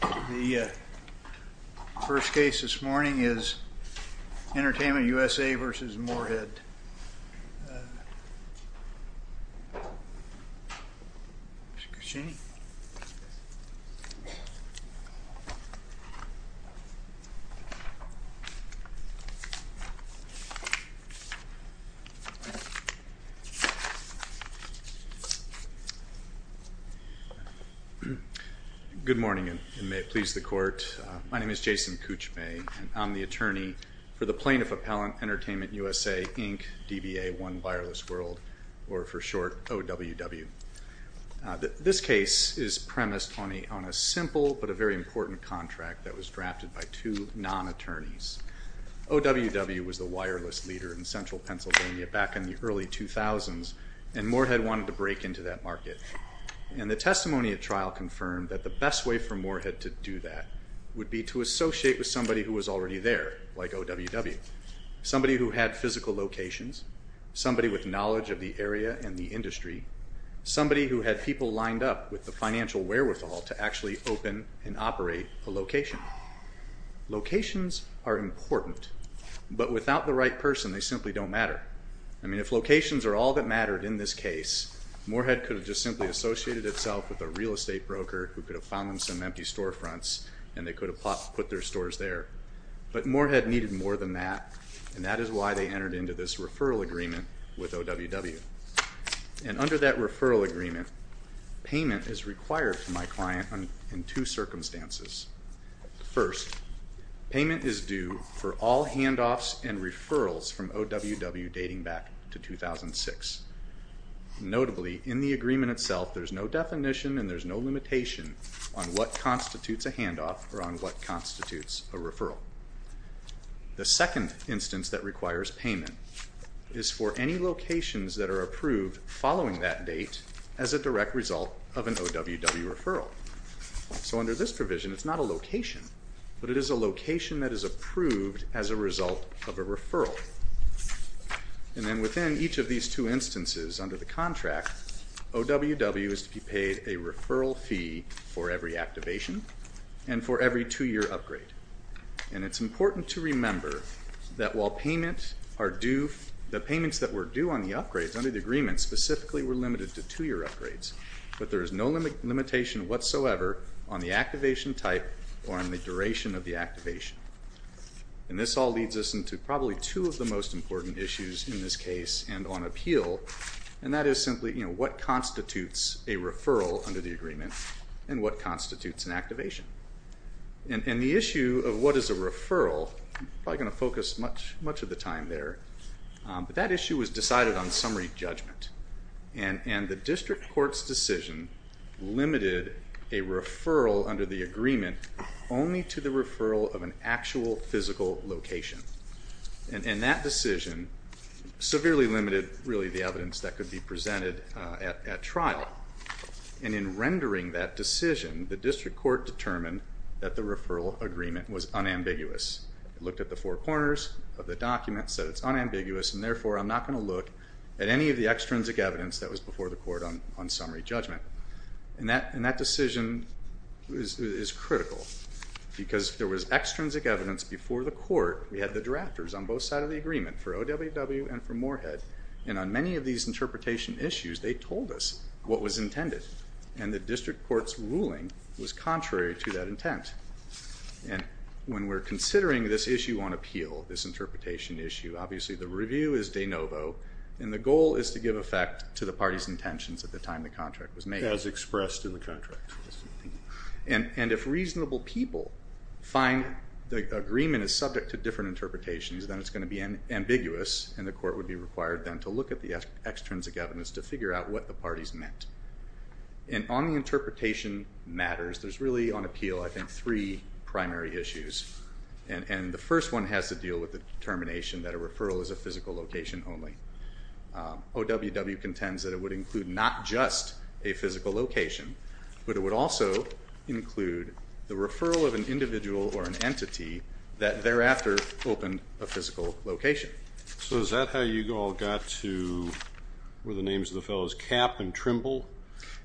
The first case this morning is Entertainment USA v. Moorhead. Good morning and may it please the Court, my name is Jason Coochmay and I'm the attorney for the Plaintiff Appellant Entertainment USA, Inc., DBA, One Wireless World, or for short OWW. This case is premised on a simple but a very important contract that was drafted by two non-attorneys. OWW was the wireless leader in Central Pennsylvania back in the early 2000s and Moorhead wanted to break into that market. And the testimony at trial confirmed that the best way for Moorhead to do that would be to associate with somebody who was already there, like OWW. Somebody who had physical locations, somebody with knowledge of the area and the industry, somebody who had people lined up with the financial wherewithal to actually open and operate a location. Locations are important, but without the right person they simply don't matter. I mean, if locations are all that mattered in this case, Moorhead could have just simply associated itself with a real estate broker who could have found them some empty storefronts and they could have put their stores there. But Moorhead needed more than that and that is why they entered into this referral agreement with OWW. And under that referral agreement, payment is required for my client in two circumstances. First, payment is due for all handoffs and referrals from OWW dating back to 2006. Notably, in the agreement itself there's no definition and there's no limitation on what constitutes a referral. The second instance that requires payment is for any locations that are approved following that date as a direct result of an OWW referral. So under this provision, it's not a location, but it is a location that is approved as a result of a referral. And then within each of these two instances under the contract, OWW is to be paid a referral fee for every activation and for every two-year upgrade. And it's important to remember that while payment are due, the payments that were due on the upgrades under the agreement specifically were limited to two-year upgrades, but there is no limitation whatsoever on the activation type or on the duration of the activation. And this all leads us into probably two of the most important issues in this case and on appeal, and that is simply, you know, what constitutes a referral under the agreement and what constitutes an activation. And the issue of what is a referral, I'm probably going to focus much of the time there, but that issue was decided on summary judgment, and the district court's decision limited a referral under the agreement only to the referral of an actual physical location. And that decision severely limited, really, the evidence that could be presented at trial. And in rendering that decision, the district court determined that the referral agreement was unambiguous. It looked at the four corners of the document, said it's unambiguous, and therefore, I'm not going to look at any of the extrinsic evidence that was before the court on summary judgment. And that decision is critical because if there was extrinsic evidence before the court, we had the drafters on both sides of the agreement for OWW and for Moorhead, and on many of these interpretation issues, they told us what was intended, and the district court's ruling was contrary to that intent. And when we're considering this issue on appeal, this interpretation issue, obviously the review is de novo, and the goal is to give effect to the party's intentions at the time the contract was made. As expressed in the contract. And if reasonable people find the agreement is subject to different interpretations, then it's going to be ambiguous, and the court would be required then to look at the extrinsic evidence to figure out what the parties meant. And on the interpretation matters, there's really on appeal, I think, three primary issues. And the first one has to deal with the determination that a referral is a physical location only. OWW contends that it would include not just a physical location, but it would also include the referral of an individual or an entity that thereafter opened a physical location. So is that how you all got to, what were the names of the fellows, Kapp and Trimble,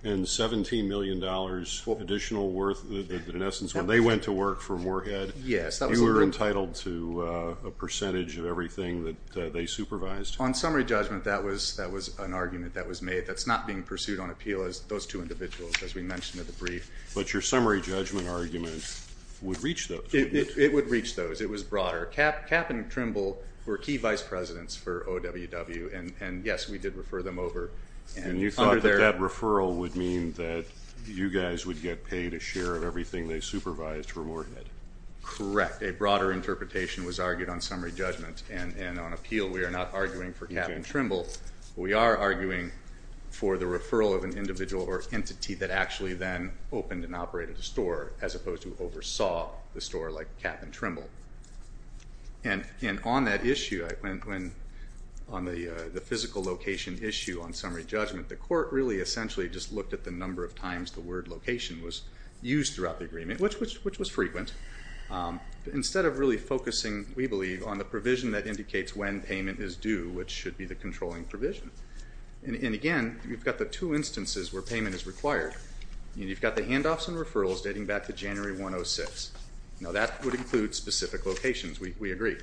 and $17 million additional worth, in essence, when they went to work for Moorhead, you were entitled to a percentage of everything that they supervised? On summary judgment, that was an argument that was made. That's not being pursued on appeal as those two individuals, as we mentioned in the brief. But your summary judgment argument would reach those. It would reach those. It was broader. Kapp and Trimble were key vice presidents for OWW, and yes, we did refer them over. And you thought that that referral would mean that you guys would get paid a share of everything they supervised for Moorhead? Correct. A broader interpretation was argued on summary judgment. And on appeal, we are not arguing for Kapp and Trimble. We are arguing for the referral of an individual or entity that actually then opened and operated the store, as opposed to oversaw the store like Kapp and Trimble. And on that issue, on the physical location issue on summary judgment, the court really essentially just looked at the number of times the word location was used throughout the agreement, which was frequent. Instead of really focusing, we believe, on the provision that indicates when payment is due, which should be the controlling provision. And again, you've got the two instances where payment is required. You've got the handoffs and referrals dating back to January 106. Now that would include specific locations. We agree.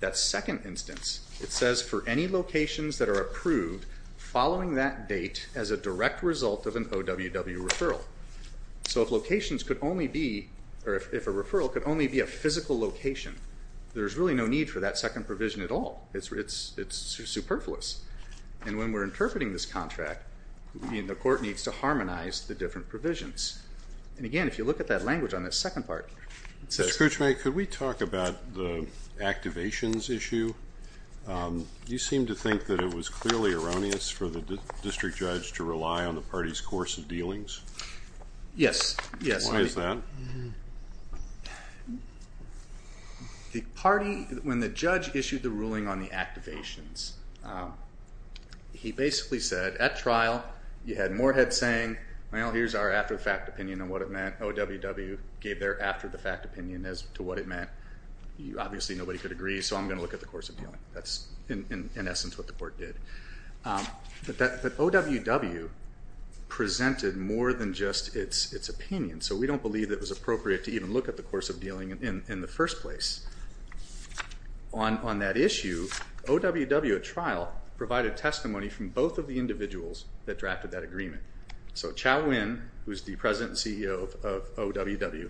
That second instance, it says for any locations that are approved following that date as a direct result of an OWW referral. So if locations could only be, or if a referral could only be a physical location, there's really no need for that second provision at all. It's superfluous. And when we're interpreting this contract, the court needs to harmonize the different provisions. And again, if you look at that language on that second part, it says— Mr. Kruchma, could we talk about the activations issue? You seem to think that it was clearly erroneous for the district judge to rely on the party's course of dealings? Yes. Why is that? The party, when the judge issued the ruling on the activations, he basically said at trial you had Moorhead saying, well, here's our after-the-fact opinion on what it meant. OWW gave their after-the-fact opinion as to what it meant. Obviously nobody could agree, so I'm going to look at the course of dealing. That's in essence what the court did. But OWW presented more than just its opinion, so we don't believe it was appropriate to even look at the course of dealing in the first place. On that issue, OWW at trial provided testimony from both of the individuals that drafted that agreement. So, Chau Nguyen, who is the president and CEO of OWW,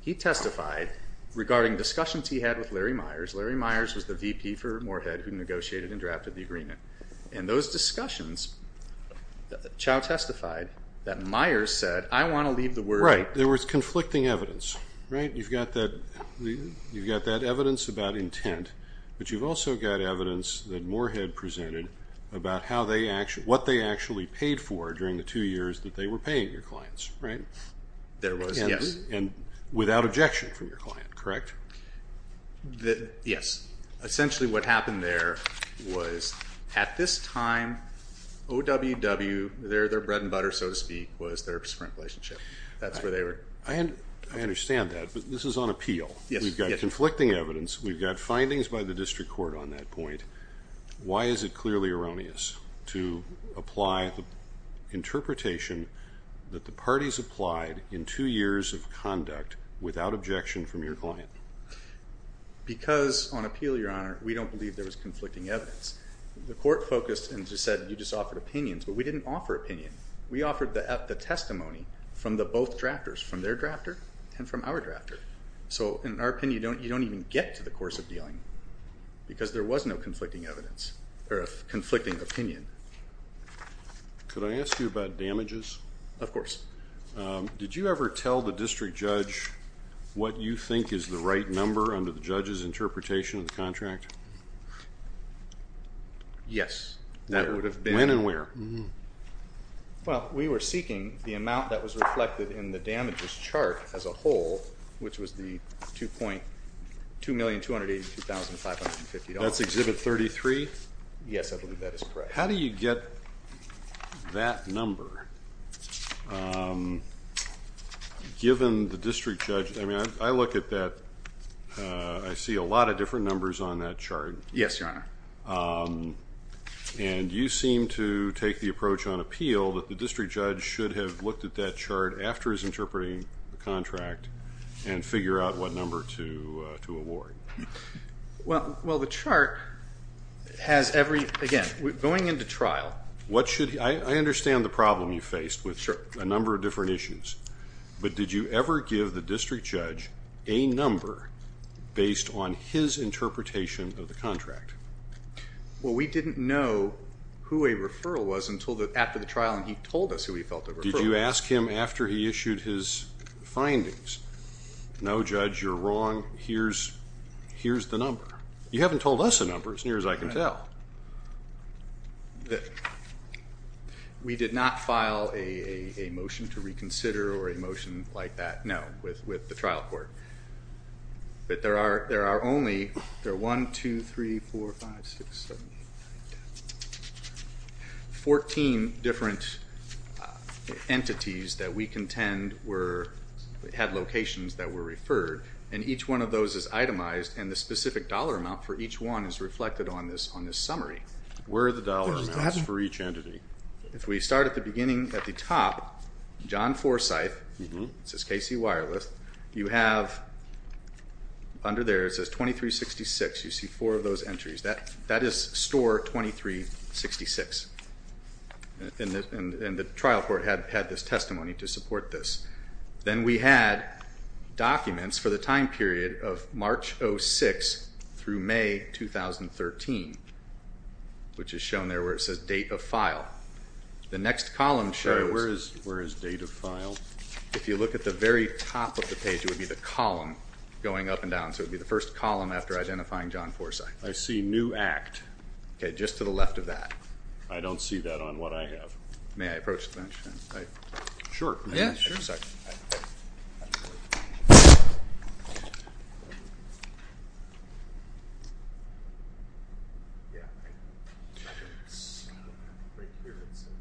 he testified regarding discussions he had with Larry Myers—Larry Myers was the VP for Moorhead who negotiated and drafted the agreement. In those discussions, Chau testified that Myers said, I want to leave the word— Right. There was conflicting evidence. Right? You've got that evidence about intent, but you've also got evidence that Moorhead presented about what they actually paid for during the two years that they were paying your clients. Right? There was, yes. And without objection from your client, correct? Yes. Essentially, what happened there was at this time, OWW, their bread and butter, so to speak, was their sprint relationship. That's where they were— I understand that, but this is on appeal. Yes. We've got conflicting evidence. We've got findings by the district court on that point. Why is it clearly erroneous to apply the interpretation that the parties applied in two years of conduct without objection from your client? Because, on appeal, Your Honor, we don't believe there was conflicting evidence. The court focused and just said, you just offered opinions, but we didn't offer opinion. We offered the testimony from the both drafters, from their drafter and from our drafter. So in our opinion, you don't even get to the course of dealing because there was no conflicting evidence or conflicting opinion. Could I ask you about damages? Of course. Did you ever tell the district judge what you think is the right number under the judge's interpretation of the contract? Yes. That would have been— When and where? Well, we were seeking the amount that was reflected in the damages chart as a whole, which was the $2,282,550. That's Exhibit 33? Yes, I believe that is correct. How do you get that number, given the district judge—I mean, I look at that—I see a lot of different numbers on that chart. Yes, Your Honor. And you seem to take the approach on appeal that the district judge should have looked at that chart after his interpreting the contract and figure out what number to award. Well, the chart has every—again, going into trial— What should—I understand the problem you faced with a number of different issues, but did you ever give the district judge a number based on his interpretation of the contract? Well, we didn't know who a referral was until after the trial and he told us who he felt the referral was. Did you ask him after he issued his findings? No, Judge, you're wrong. Here's the number. You haven't told us a number, as near as I can tell. We did not file a motion to reconsider or a motion like that, no, with the trial court. But there are only—there are 1, 2, 3, 4, 5, 6, 7, 8, 9, 10—14 different entities that we contend were—had locations that were referred, and each one of those is itemized and the specific dollar amount for each one is reflected on this summary. Where are the dollar amounts for each entity? If we start at the beginning, at the top, John Forsythe, it says KC Wireless, you have under there, it says 2366, you see four of those entries. That is store 2366, and the trial court had this testimony to support this. Then we had documents for the time period of March 06 through May 2013, which is shown there where it says date of file. The next column shows— Where is date of file? If you look at the very top of the page, it would be the column going up and down, so it would be the first column after identifying John Forsythe. I see new act. Okay, just to the left of that. I don't see that on what I have. May I approach the bench? Sure. Yeah, sure.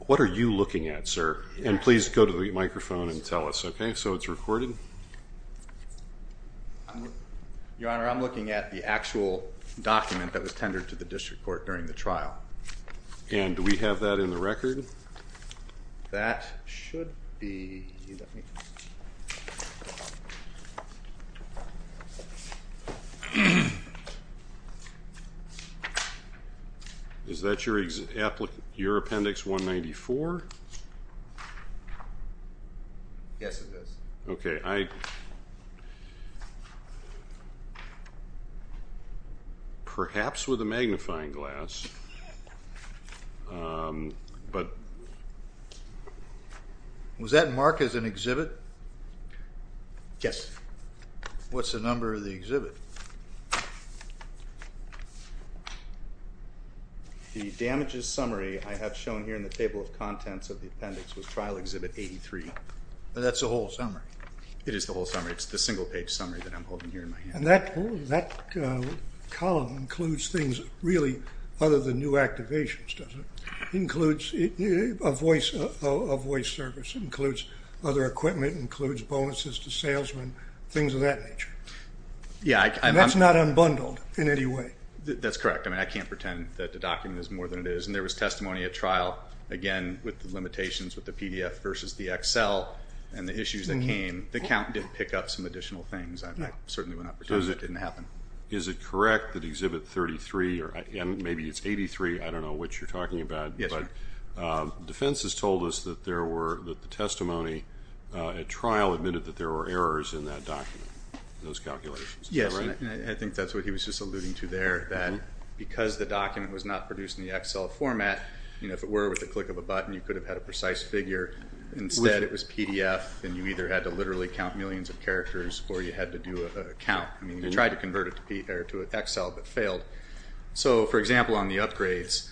What are you looking at, sir? And please go to the microphone and tell us, okay? So it's recorded? Your Honor, I'm looking at the actual document that was tendered to the district court during the trial. And do we have that in the record? That should be. Is that your appendix 194? Yes, it is. Okay, I—perhaps with a magnifying glass, but— Was that marked as an exhibit? Yes. What's the number of the exhibit? The damages summary I have shown here in the table of contents of the appendix was Trial Exhibit 83. That's the whole summary? It is the whole summary. It's the single page summary that I'm holding here in my hand. And that column includes things really other than new activations, does it? Includes a voice service, includes other equipment, includes bonuses to salesmen, things of that nature. Yeah, I'm— And that's not unbundled in any way? That's correct. I mean, I can't pretend that the document is more than it is. And there was testimony at trial, again, with the limitations with the PDF versus the Excel and the issues that came. The count did pick up some additional things. I certainly would not pretend that didn't happen. Is it correct that Exhibit 33, or maybe it's 83, I don't know which you're talking about, but the defense has told us that there were—that the testimony at trial admitted that there were errors in that document, those calculations, is that right? Yes, and I think that's what he was just alluding to there, that because the document was not produced in the Excel format, if it were with the click of a button, you could have had a precise figure. Instead, it was PDF, and you either had to literally count millions of characters or you had to do a count. I mean, you tried to convert it to Excel, but failed. So for example, on the upgrades,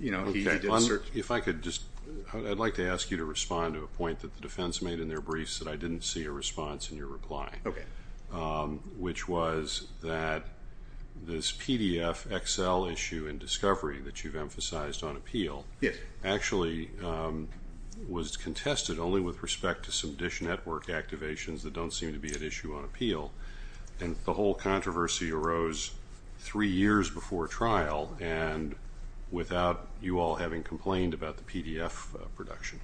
he did assert— If I could just—I'd like to ask you to respond to a point that the defense made in their briefs that I didn't see a response in your reply, which was that this PDF Excel issue and discovery that you've emphasized on appeal actually was contested only with respect to some DISH network activations that don't seem to be at issue on appeal. And the whole controversy arose three years before trial and without you all having complained about the PDF production.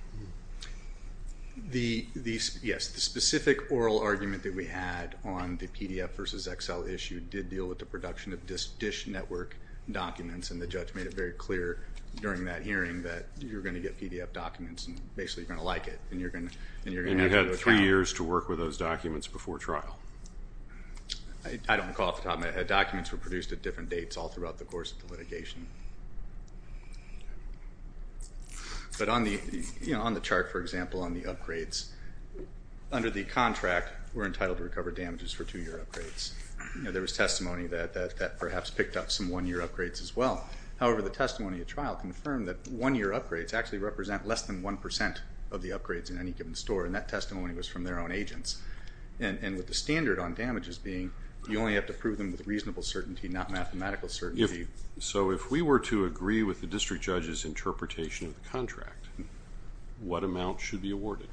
Yes, the specific oral argument that we had on the PDF versus Excel issue did deal with the production of DISH network documents, and the judge made it very clear during that hearing that you're going to get PDF documents, and basically you're going to like it, and you're going to— And you had three years to work with those documents before trial. I don't recall off the top of my head. Documents were produced at different dates all throughout the course of the litigation. But on the chart, for example, on the upgrades, under the contract, we're entitled to recover damages for two-year upgrades. There was testimony that that perhaps picked up some one-year upgrades as well. However, the testimony at trial confirmed that one-year upgrades actually represent less than 1% of the upgrades in any given store, and that testimony was from their own agents. And with the standard on damages being you only have to prove them with reasonable certainty, not mathematical certainty. So if we were to agree with the district judge's interpretation of the contract, what amount should be awarded?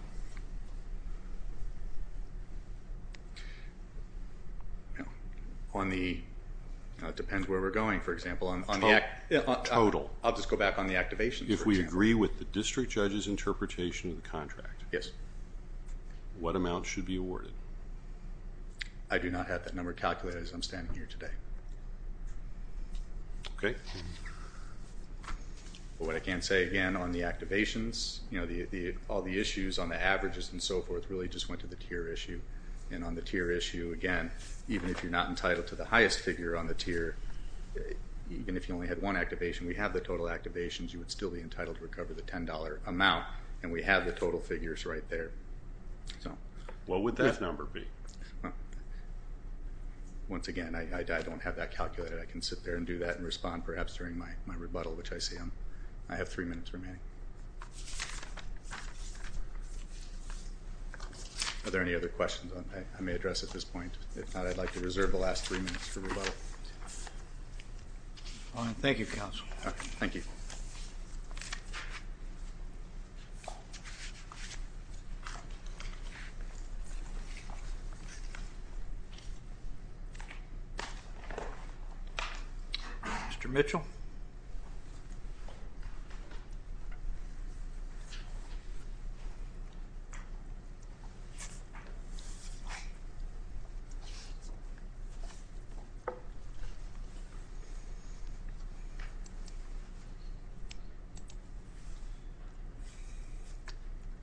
On the—it depends where we're going, for example. Total. Total. I'll just go back on the activations, for example. If we agree with the district judge's interpretation of the contract, what amount should be awarded? I do not have that number calculated as I'm standing here today. Okay. But what I can say, again, on the activations, you know, all the issues on the averages and so forth really just went to the tier issue, and on the tier issue, again, even if you're not entitled to the highest figure on the tier, even if you only had one activation, we have the total activations, you would still be entitled to recover the $10 amount, and we have the total figures right there. What would that number be? Once again, I don't have that calculated. I can sit there and do that and respond perhaps during my rebuttal, which I see I have three minutes remaining. Are there any other questions I may address at this point? If not, I'd like to reserve the last three minutes for rebuttal. Thank you, Counsel. Okay. Mr. Mitchell?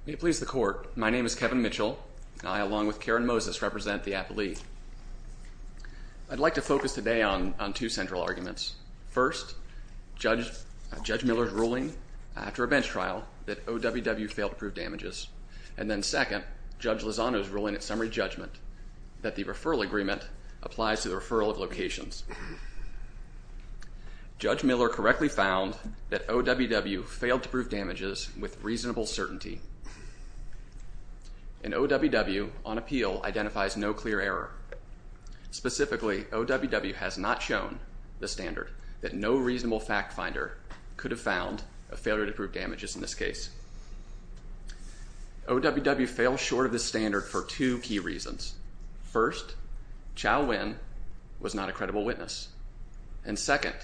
May it please the Court. My name is Kevin Mitchell. I, along with Karen Moses, represent the appellee. I'd like to focus today on two central arguments. First, Judge Miller's ruling after a bench trial that OWW failed to prove damages, and then second, Judge Lozano's ruling at summary judgment that the referral agreement applies to the referral of locations. Judge Miller correctly found that OWW failed to prove damages with reasonable certainty, and OWW, on appeal, identifies no clear error. Specifically, OWW has not shown the standard that no reasonable fact finder could have found a failure to prove damages in this case. OWW failed short of this standard for two key reasons. First, Chow Winn was not a credible witness, and second,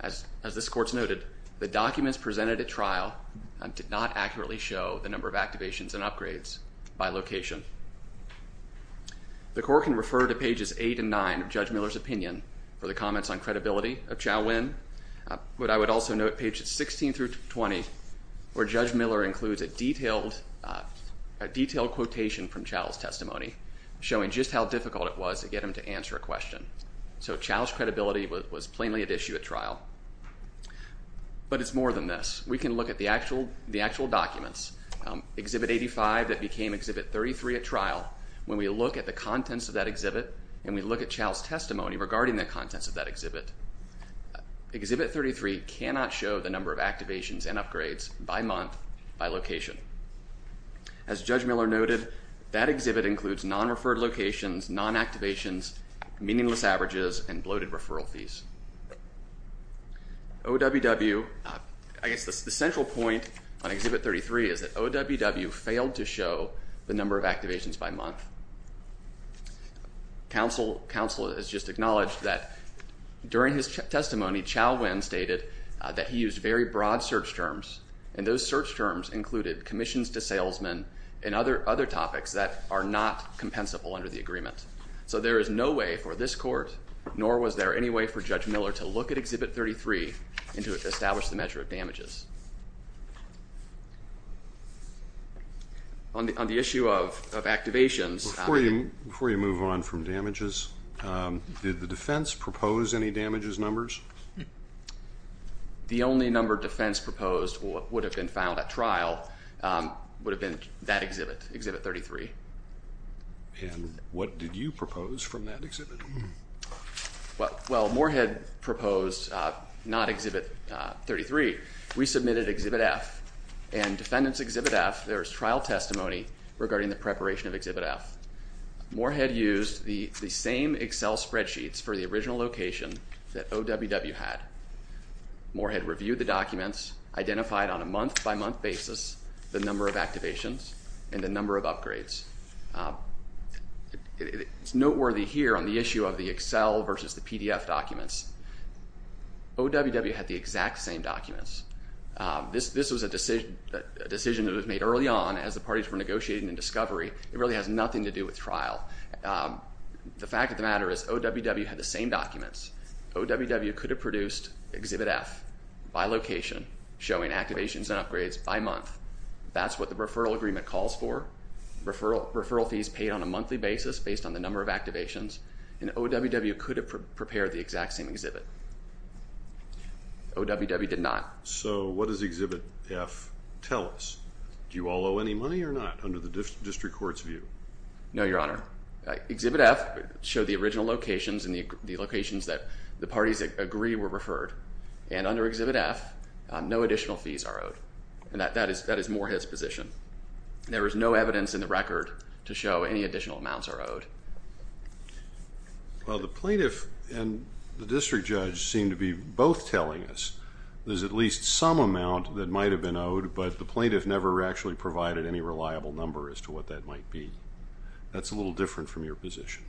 as this Court's noted, the documents accurately show the number of activations and upgrades by location. The Court can refer to pages 8 and 9 of Judge Miller's opinion for the comments on credibility of Chow Winn, but I would also note pages 16 through 20, where Judge Miller includes a detailed quotation from Chow's testimony, showing just how difficult it was to get him to answer a question. So Chow's credibility was plainly at issue at trial. But it's more than this. We can look at the actual documents, Exhibit 85 that became Exhibit 33 at trial. When we look at the contents of that exhibit, and we look at Chow's testimony regarding the contents of that exhibit, Exhibit 33 cannot show the number of activations and upgrades by month, by location. As Judge Miller noted, that exhibit includes non-referred locations, non-activations, meaningless averages, and bloated referral fees. OWW, I guess the central point on Exhibit 33 is that OWW failed to show the number of activations by month. Counsel has just acknowledged that during his testimony, Chow Winn stated that he used very broad search terms, and those search terms included commissions to salesmen and other topics that are not compensable under the agreement. So there is no way for this court, nor was there any way for Judge Miller, to look at Exhibit 33 and to establish the measure of damages. On the issue of activations- Before you move on from damages, did the defense propose any damages numbers? The only number defense proposed would have been found at trial would have been that exhibit, Exhibit 33. And what did you propose from that exhibit? Well, Moorhead proposed not Exhibit 33. We submitted Exhibit F, and Defendant's Exhibit F, there is trial testimony regarding the preparation of Exhibit F. Moorhead used the same Excel spreadsheets for the original location that OWW had. Moorhead reviewed the documents, identified on a month-by-month basis the number of activations and the number of upgrades. It's noteworthy here on the issue of the Excel versus the PDF documents, OWW had the exact same documents. This was a decision that was made early on as the parties were negotiating in discovery. It really has nothing to do with trial. The fact of the matter is, OWW had the same documents. OWW could have produced Exhibit F by location, showing activations and upgrades by month. That's what the referral agreement calls for. Referral fees paid on a monthly basis based on the number of activations, and OWW could have prepared the exact same exhibit. OWW did not. So what does Exhibit F tell us? Do you all owe any money or not under the district court's view? No, Your Honor. Exhibit F showed the original locations and the locations that the parties agree were referred. And under Exhibit F, no additional fees are owed. And that is Moorhead's position. There is no evidence in the record to show any additional amounts are owed. Well, the plaintiff and the district judge seem to be both telling us there's at least some amount that might have been owed, but the plaintiff never actually provided any reliable number as to what that might be. That's a little different from your position.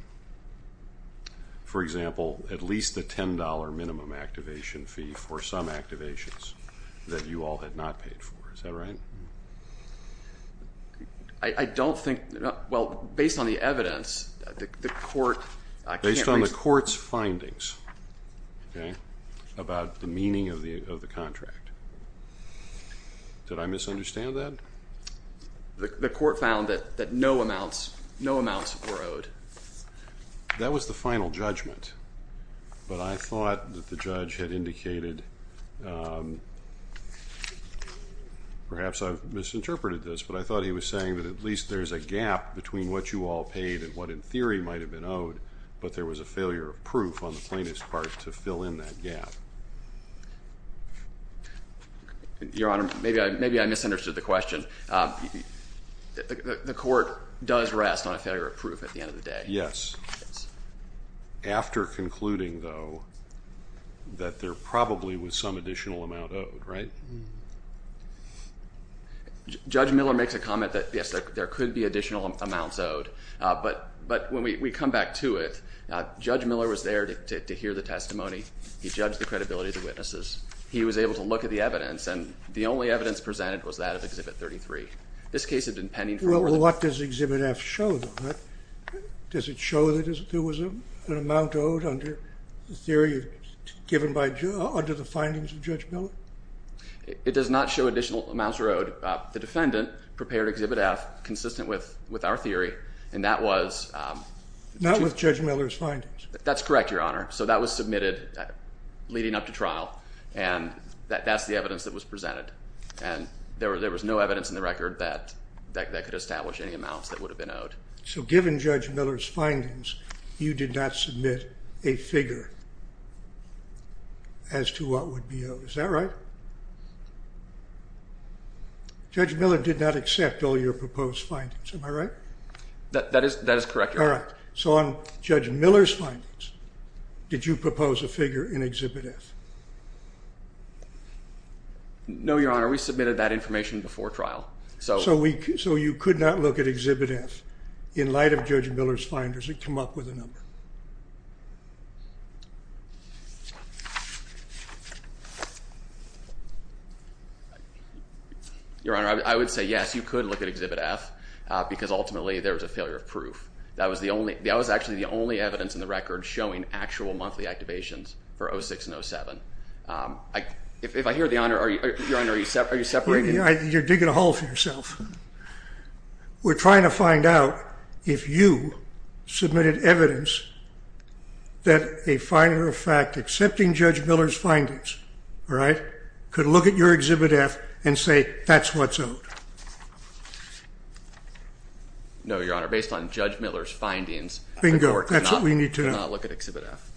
For example, at least a $10 minimum activation fee for some activations that you all had not paid for. Is that right? I don't think, well, based on the evidence, the court can't reason. Based on the court's findings, okay, about the meaning of the contract. Did I misunderstand that? The court found that no amounts were owed. That was the final judgment, but I thought that the judge had indicated, perhaps I've misinterpreted this, but I thought he was saying that at least there's a gap between what you all paid and what in theory might have been owed, but there was a failure of proof on the plaintiff's part to fill in that gap. Your Honor, maybe I misunderstood the question. The court does rest on a failure of proof at the end of the day. Yes. After concluding, though, that there probably was some additional amount owed, right? Judge Miller makes a comment that, yes, there could be additional amounts owed, but when we come back to it, Judge Miller was there to hear the testimony, he judged the credibility of the witnesses, he was able to look at the evidence, and the only evidence presented was that of Exhibit 33. This case had been pending for a little while. Well, what does Exhibit F show, though? Does it show that there was an amount owed under the theory given by, under the findings of Judge Miller? It does not show additional amounts were owed. The defendant prepared Exhibit F, consistent with our theory, and that was... Not with Judge Miller's findings. That's correct, Your Honor. So that was submitted leading up to trial, and that's the evidence that was presented. And there was no evidence in the record that that could establish any amounts that would have been owed. So given Judge Miller's findings, you did not submit a figure as to what would be owed. Is that right? Judge Miller did not accept all your proposed findings. Am I right? That is correct, Your Honor. All right. So on Judge Miller's findings, did you propose a figure in Exhibit F? No, Your Honor. We submitted that information before trial. So you could not look at Exhibit F in light of Judge Miller's findings and come up with a number? Your Honor, I would say yes, you could look at Exhibit F, because ultimately there was a failure of proof. That was actually the only evidence in the record showing actual monthly activations for 06 and 07. If I hear the Honor, Your Honor, are you separating? You're digging a hole for yourself. We're trying to find out if you submitted evidence that a finder of fact accepting Judge Miller's findings, all right, could look at your Exhibit F and say, that's what's owed. No, Your Honor, based on Judge Miller's findings, I could not look at Exhibit F.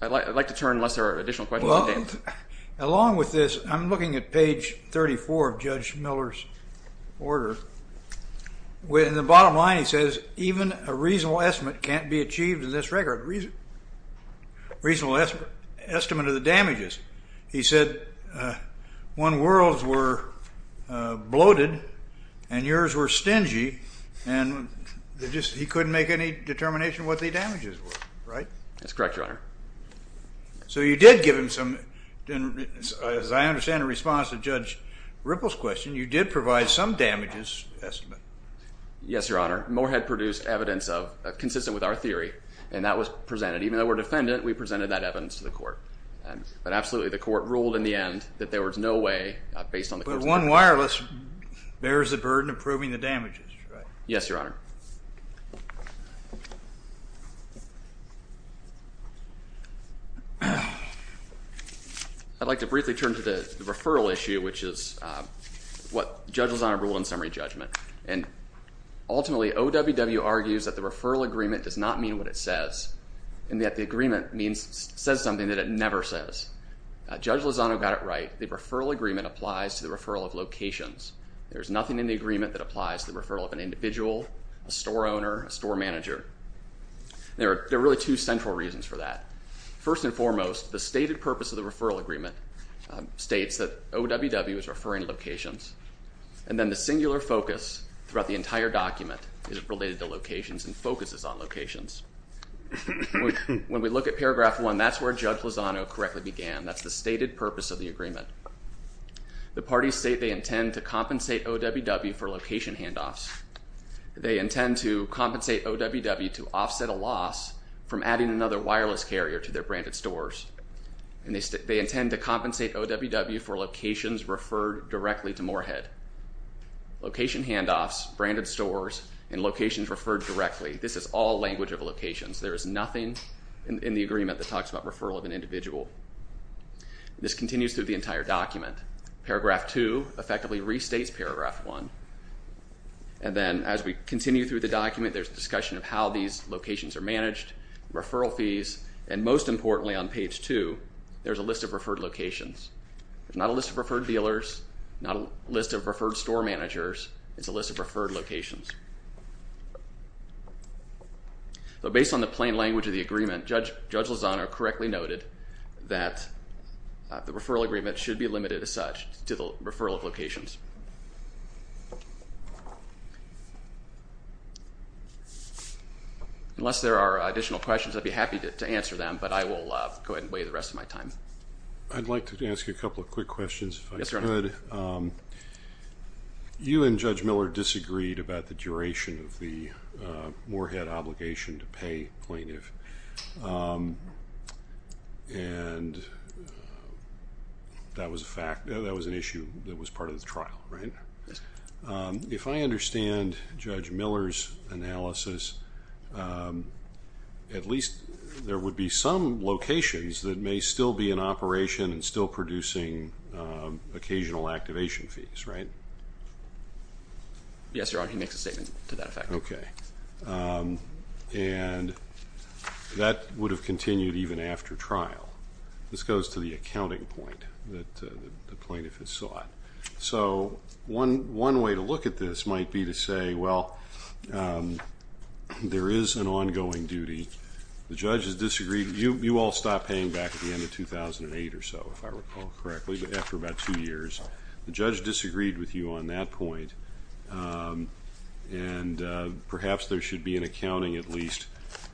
I'd like to turn unless there are additional questions. Along with this, I'm looking at page 34 of Judge Miller's order, where in the bottom line he says, even a reasonable estimate can't be achieved in this record, reasonable estimate of the damages. He said, one, worlds were bloated, and yours were stingy, and he couldn't make any determination what the damages were, right? That's correct, Your Honor. So you did give him some, as I understand in response to Judge Ripple's question, you did provide some damages estimate. Yes, Your Honor, Moore had produced evidence consistent with our theory, and that was presented. Even though we're defendant, we presented that evidence to the court. But absolutely, the court ruled in the end that there was no way, based on the court's recommendation. But one wireless bears the burden of proving the damages, right? Yes, Your Honor. I'd like to briefly turn to the referral issue, which is what Judge Lozano ruled in summary judgment. And ultimately, OWW argues that the referral agreement does not mean what it says, and that the agreement says something that it never says. Judge Lozano got it right. The referral agreement applies to the referral of locations. There's nothing in the agreement that applies to the referral of an individual, a store owner, a store manager. There are really two central reasons for that. First and foremost, the stated purpose of the referral agreement states that OWW is referring locations. And then the singular focus throughout the entire document is related to locations and focuses on locations. When we look at paragraph one, that's where Judge Lozano correctly began. That's the stated purpose of the agreement. The parties state they intend to compensate OWW for location handoffs. They intend to compensate OWW to offset a loss from adding another wireless carrier to their branded stores. And they intend to compensate OWW for locations referred directly to Moorhead. Location handoffs, branded stores, and locations referred directly, this is all language of locations. There is nothing in the agreement that talks about referral of an individual. This continues through the entire document. Paragraph two effectively restates paragraph one. And then as we continue through the document, there's discussion of how these locations are managed, referral fees, and most importantly on page two, there's a list of referred locations. There's not a list of referred dealers, not a list of referred store managers, it's a list of referred locations. So based on the plain language of the agreement, Judge Lozano correctly noted that the referral agreement should be limited as such to the referral of locations. Unless there are additional questions, I'd be happy to answer them, but I will go ahead and wait the rest of my time. I'd like to ask you a couple of quick questions if I could. You and Judge Miller disagreed about the duration of the Moorhead obligation to pay plaintiff. And that was a fact, that was an issue that was part of the trial, right? If I understand Judge Miller's analysis, at least there would be some locations that may still be in operation and still producing occasional activation fees, right? Yes, Your Honor, he makes a statement to that effect. Okay, and that would have continued even after trial. This goes to the accounting point that the plaintiff has sought. So one way to look at this might be to say, well, there is an ongoing duty. The judge has disagreed. You all stopped paying back at the end of 2008 or so, if I recall correctly, after about two years. The judge disagreed with you on that point, and perhaps there should be an accounting at least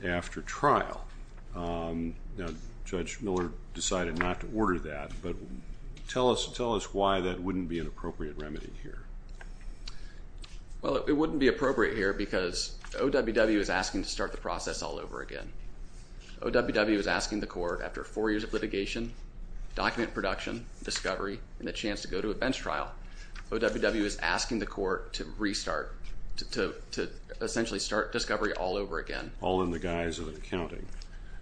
after trial. Now, Judge Miller decided not to order that, but tell us why that wouldn't be an appropriate remedy here. Well, it wouldn't be appropriate here because OWW is asking to start the process all over again. OWW is asking the court, after four years of litigation, document production, discovery, and the chance to go to a bench trial, OWW is asking the court to restart, to essentially start discovery all over again. All in the guise of an accounting.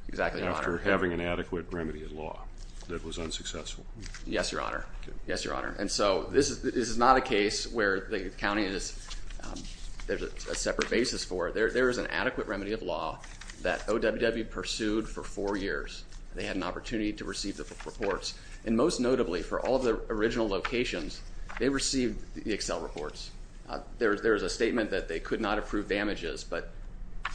Exactly, Your Honor. After having an adequate remedy of law that was unsuccessful. Yes, Your Honor. Okay. Yes, Your Honor. And so this is not a case where the county is, there's a separate basis for it. There is an adequate remedy of law that OWW pursued for four years. They had an opportunity to receive the reports, and most notably, for all of the original locations, they received the Excel reports. There's a statement that they could not approve damages, but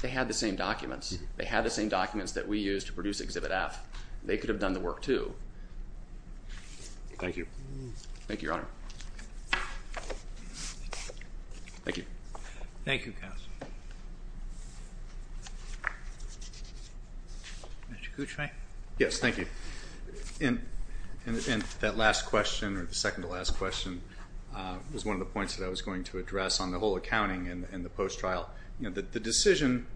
they had the same documents. They had the same documents that we used to produce Exhibit F. They could have done the work too. Thank you. Thank you, Your Honor. Thank you. Thank you, counsel. Mr. Kuchma. Yes, thank you. And that last question, or the second to last question, was one of the points that I was going to address on the whole accounting and the post-trial. The decision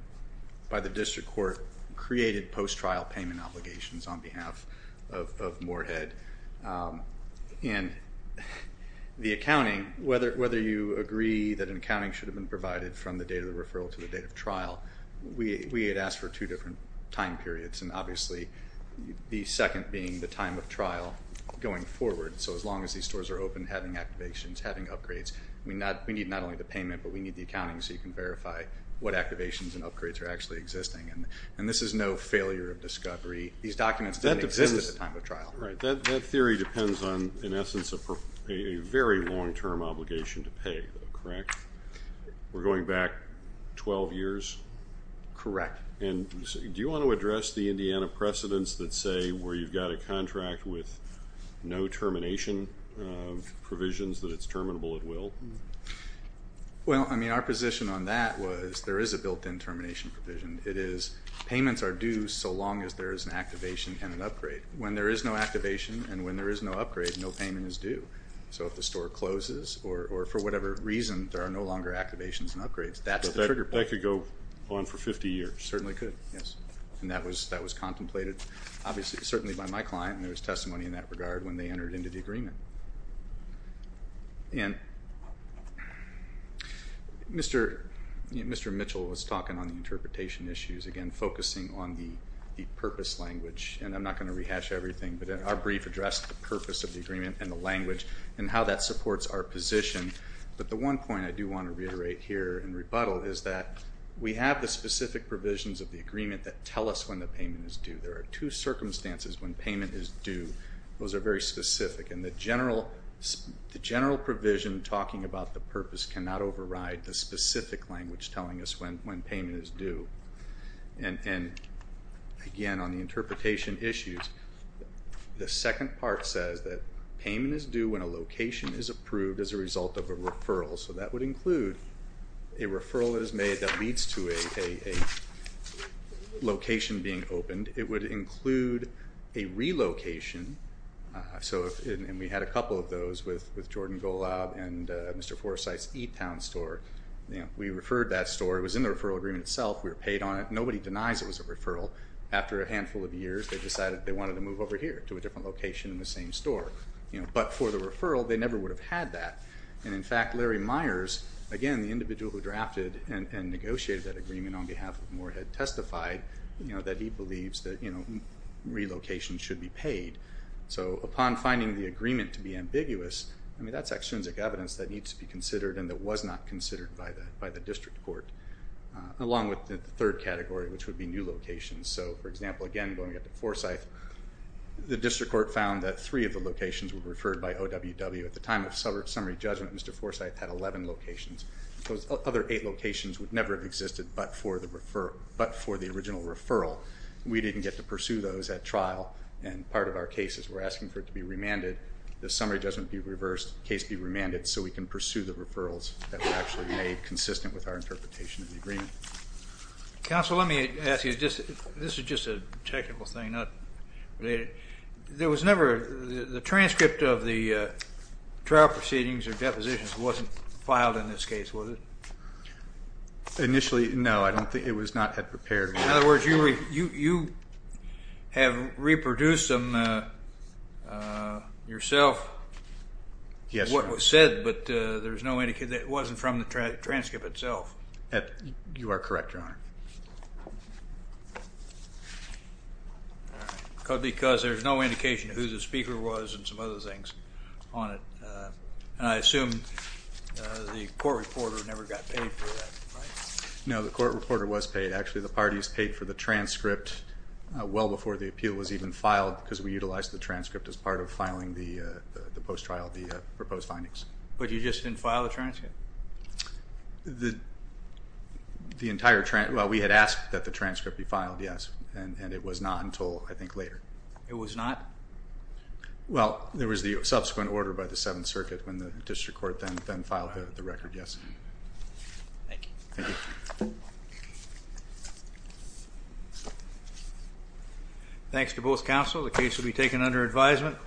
by the district court created post-trial payment obligations on behalf of Moorhead. And the accounting, whether you agree that an accounting should have been provided from the date of the referral to the date of trial, we had asked for two different time periods. And obviously, the second being the time of trial going forward. So as long as these stores are open, having activations, having upgrades, we need not only the payment, but we need the accounting so you can verify what activations and upgrades are actually existing. And this is no failure of discovery. These documents didn't exist at the time of trial. Right. That theory depends on, in essence, a very long-term obligation to pay, correct? We're going back 12 years? Correct. And do you want to address the Indiana precedents that say where you've got a contract with no termination provisions, that it's terminable at will? Well, I mean, our position on that was there is a built-in termination provision. It is payments are due so long as there is an activation and an upgrade. When there is no activation and when there is no upgrade, no payment is due. So if the store closes, or for whatever reason, there are no longer activations and upgrades, that's the trigger point. So that could go on for 50 years? Certainly could, yes. And that was contemplated, obviously, certainly by my client, and there was testimony in that regard when they entered into the agreement. And Mr. Mitchell was talking on the interpretation issues, again, focusing on the purpose language, and I'm not going to rehash everything, but our brief addressed the purpose of the agreement and the language and how that supports our position, but the one point I do want to reiterate here in rebuttal is that we have the specific provisions of the agreement that tell us when the payment is due. There are two circumstances when payment is due. Those are very specific, and the general provision talking about the purpose cannot override the specific language telling us when payment is due, and again, on the interpretation issues, the second part says that payment is due when a location is approved as a result of a referral. So that would include a referral that is made that leads to a location being opened. It would include a relocation, and we had a couple of those with Jordan Golab and Mr. Forsythe's E-Town store. We referred that store. It was in the referral agreement itself. We were paid on it. Nobody denies it was a referral. After a handful of years, they decided they wanted to move over here to a different location in the same store, but for the referral, they never would have had that, and in fact, Larry Myers, again, the individual who drafted and negotiated that agreement on behalf of Moorhead testified that he believes that relocation should be paid, so upon finding the agreement to be ambiguous, I mean, that's extrinsic evidence that needs to be considered and that was not considered by the district court, along with the third category, which would be new locations. So, for example, again, going up to Forsythe, the district court found that three of the locations were referred by OWW. At the time of summary judgment, Mr. Forsythe had 11 locations. Those other eight locations would never have existed but for the original referral. We didn't get to pursue those at trial, and part of our case is we're asking for it to be remanded. The summary judgment be reversed, case be remanded, so we can pursue the referrals that were actually made consistent with our interpretation of the agreement. Counsel, let me ask you, this is just a technical thing, not related. There was never, the transcript of the trial proceedings or depositions wasn't filed in this case, was it? Initially, no, I don't think, it was not prepared. In other words, you have reproduced them yourself, what was said, but there was no indication, it wasn't from the transcript itself. You are correct, Your Honor. All right, because there's no indication of who the speaker was and some other things on it, and I assume the court reporter never got paid for that, right? No, the court reporter was paid, actually the parties paid for the transcript well before the appeal was even filed because we utilized the transcript as part of filing the post trial, the proposed findings. But you just didn't file the transcript? The entire, well we had asked that the transcript be filed, yes, and it was not until, I think, later. It was not? Well, there was the subsequent order by the Seventh Circuit when the district court then filed the record, yes. Thank you. Thanks to both counsel, the case will be taken under advisement.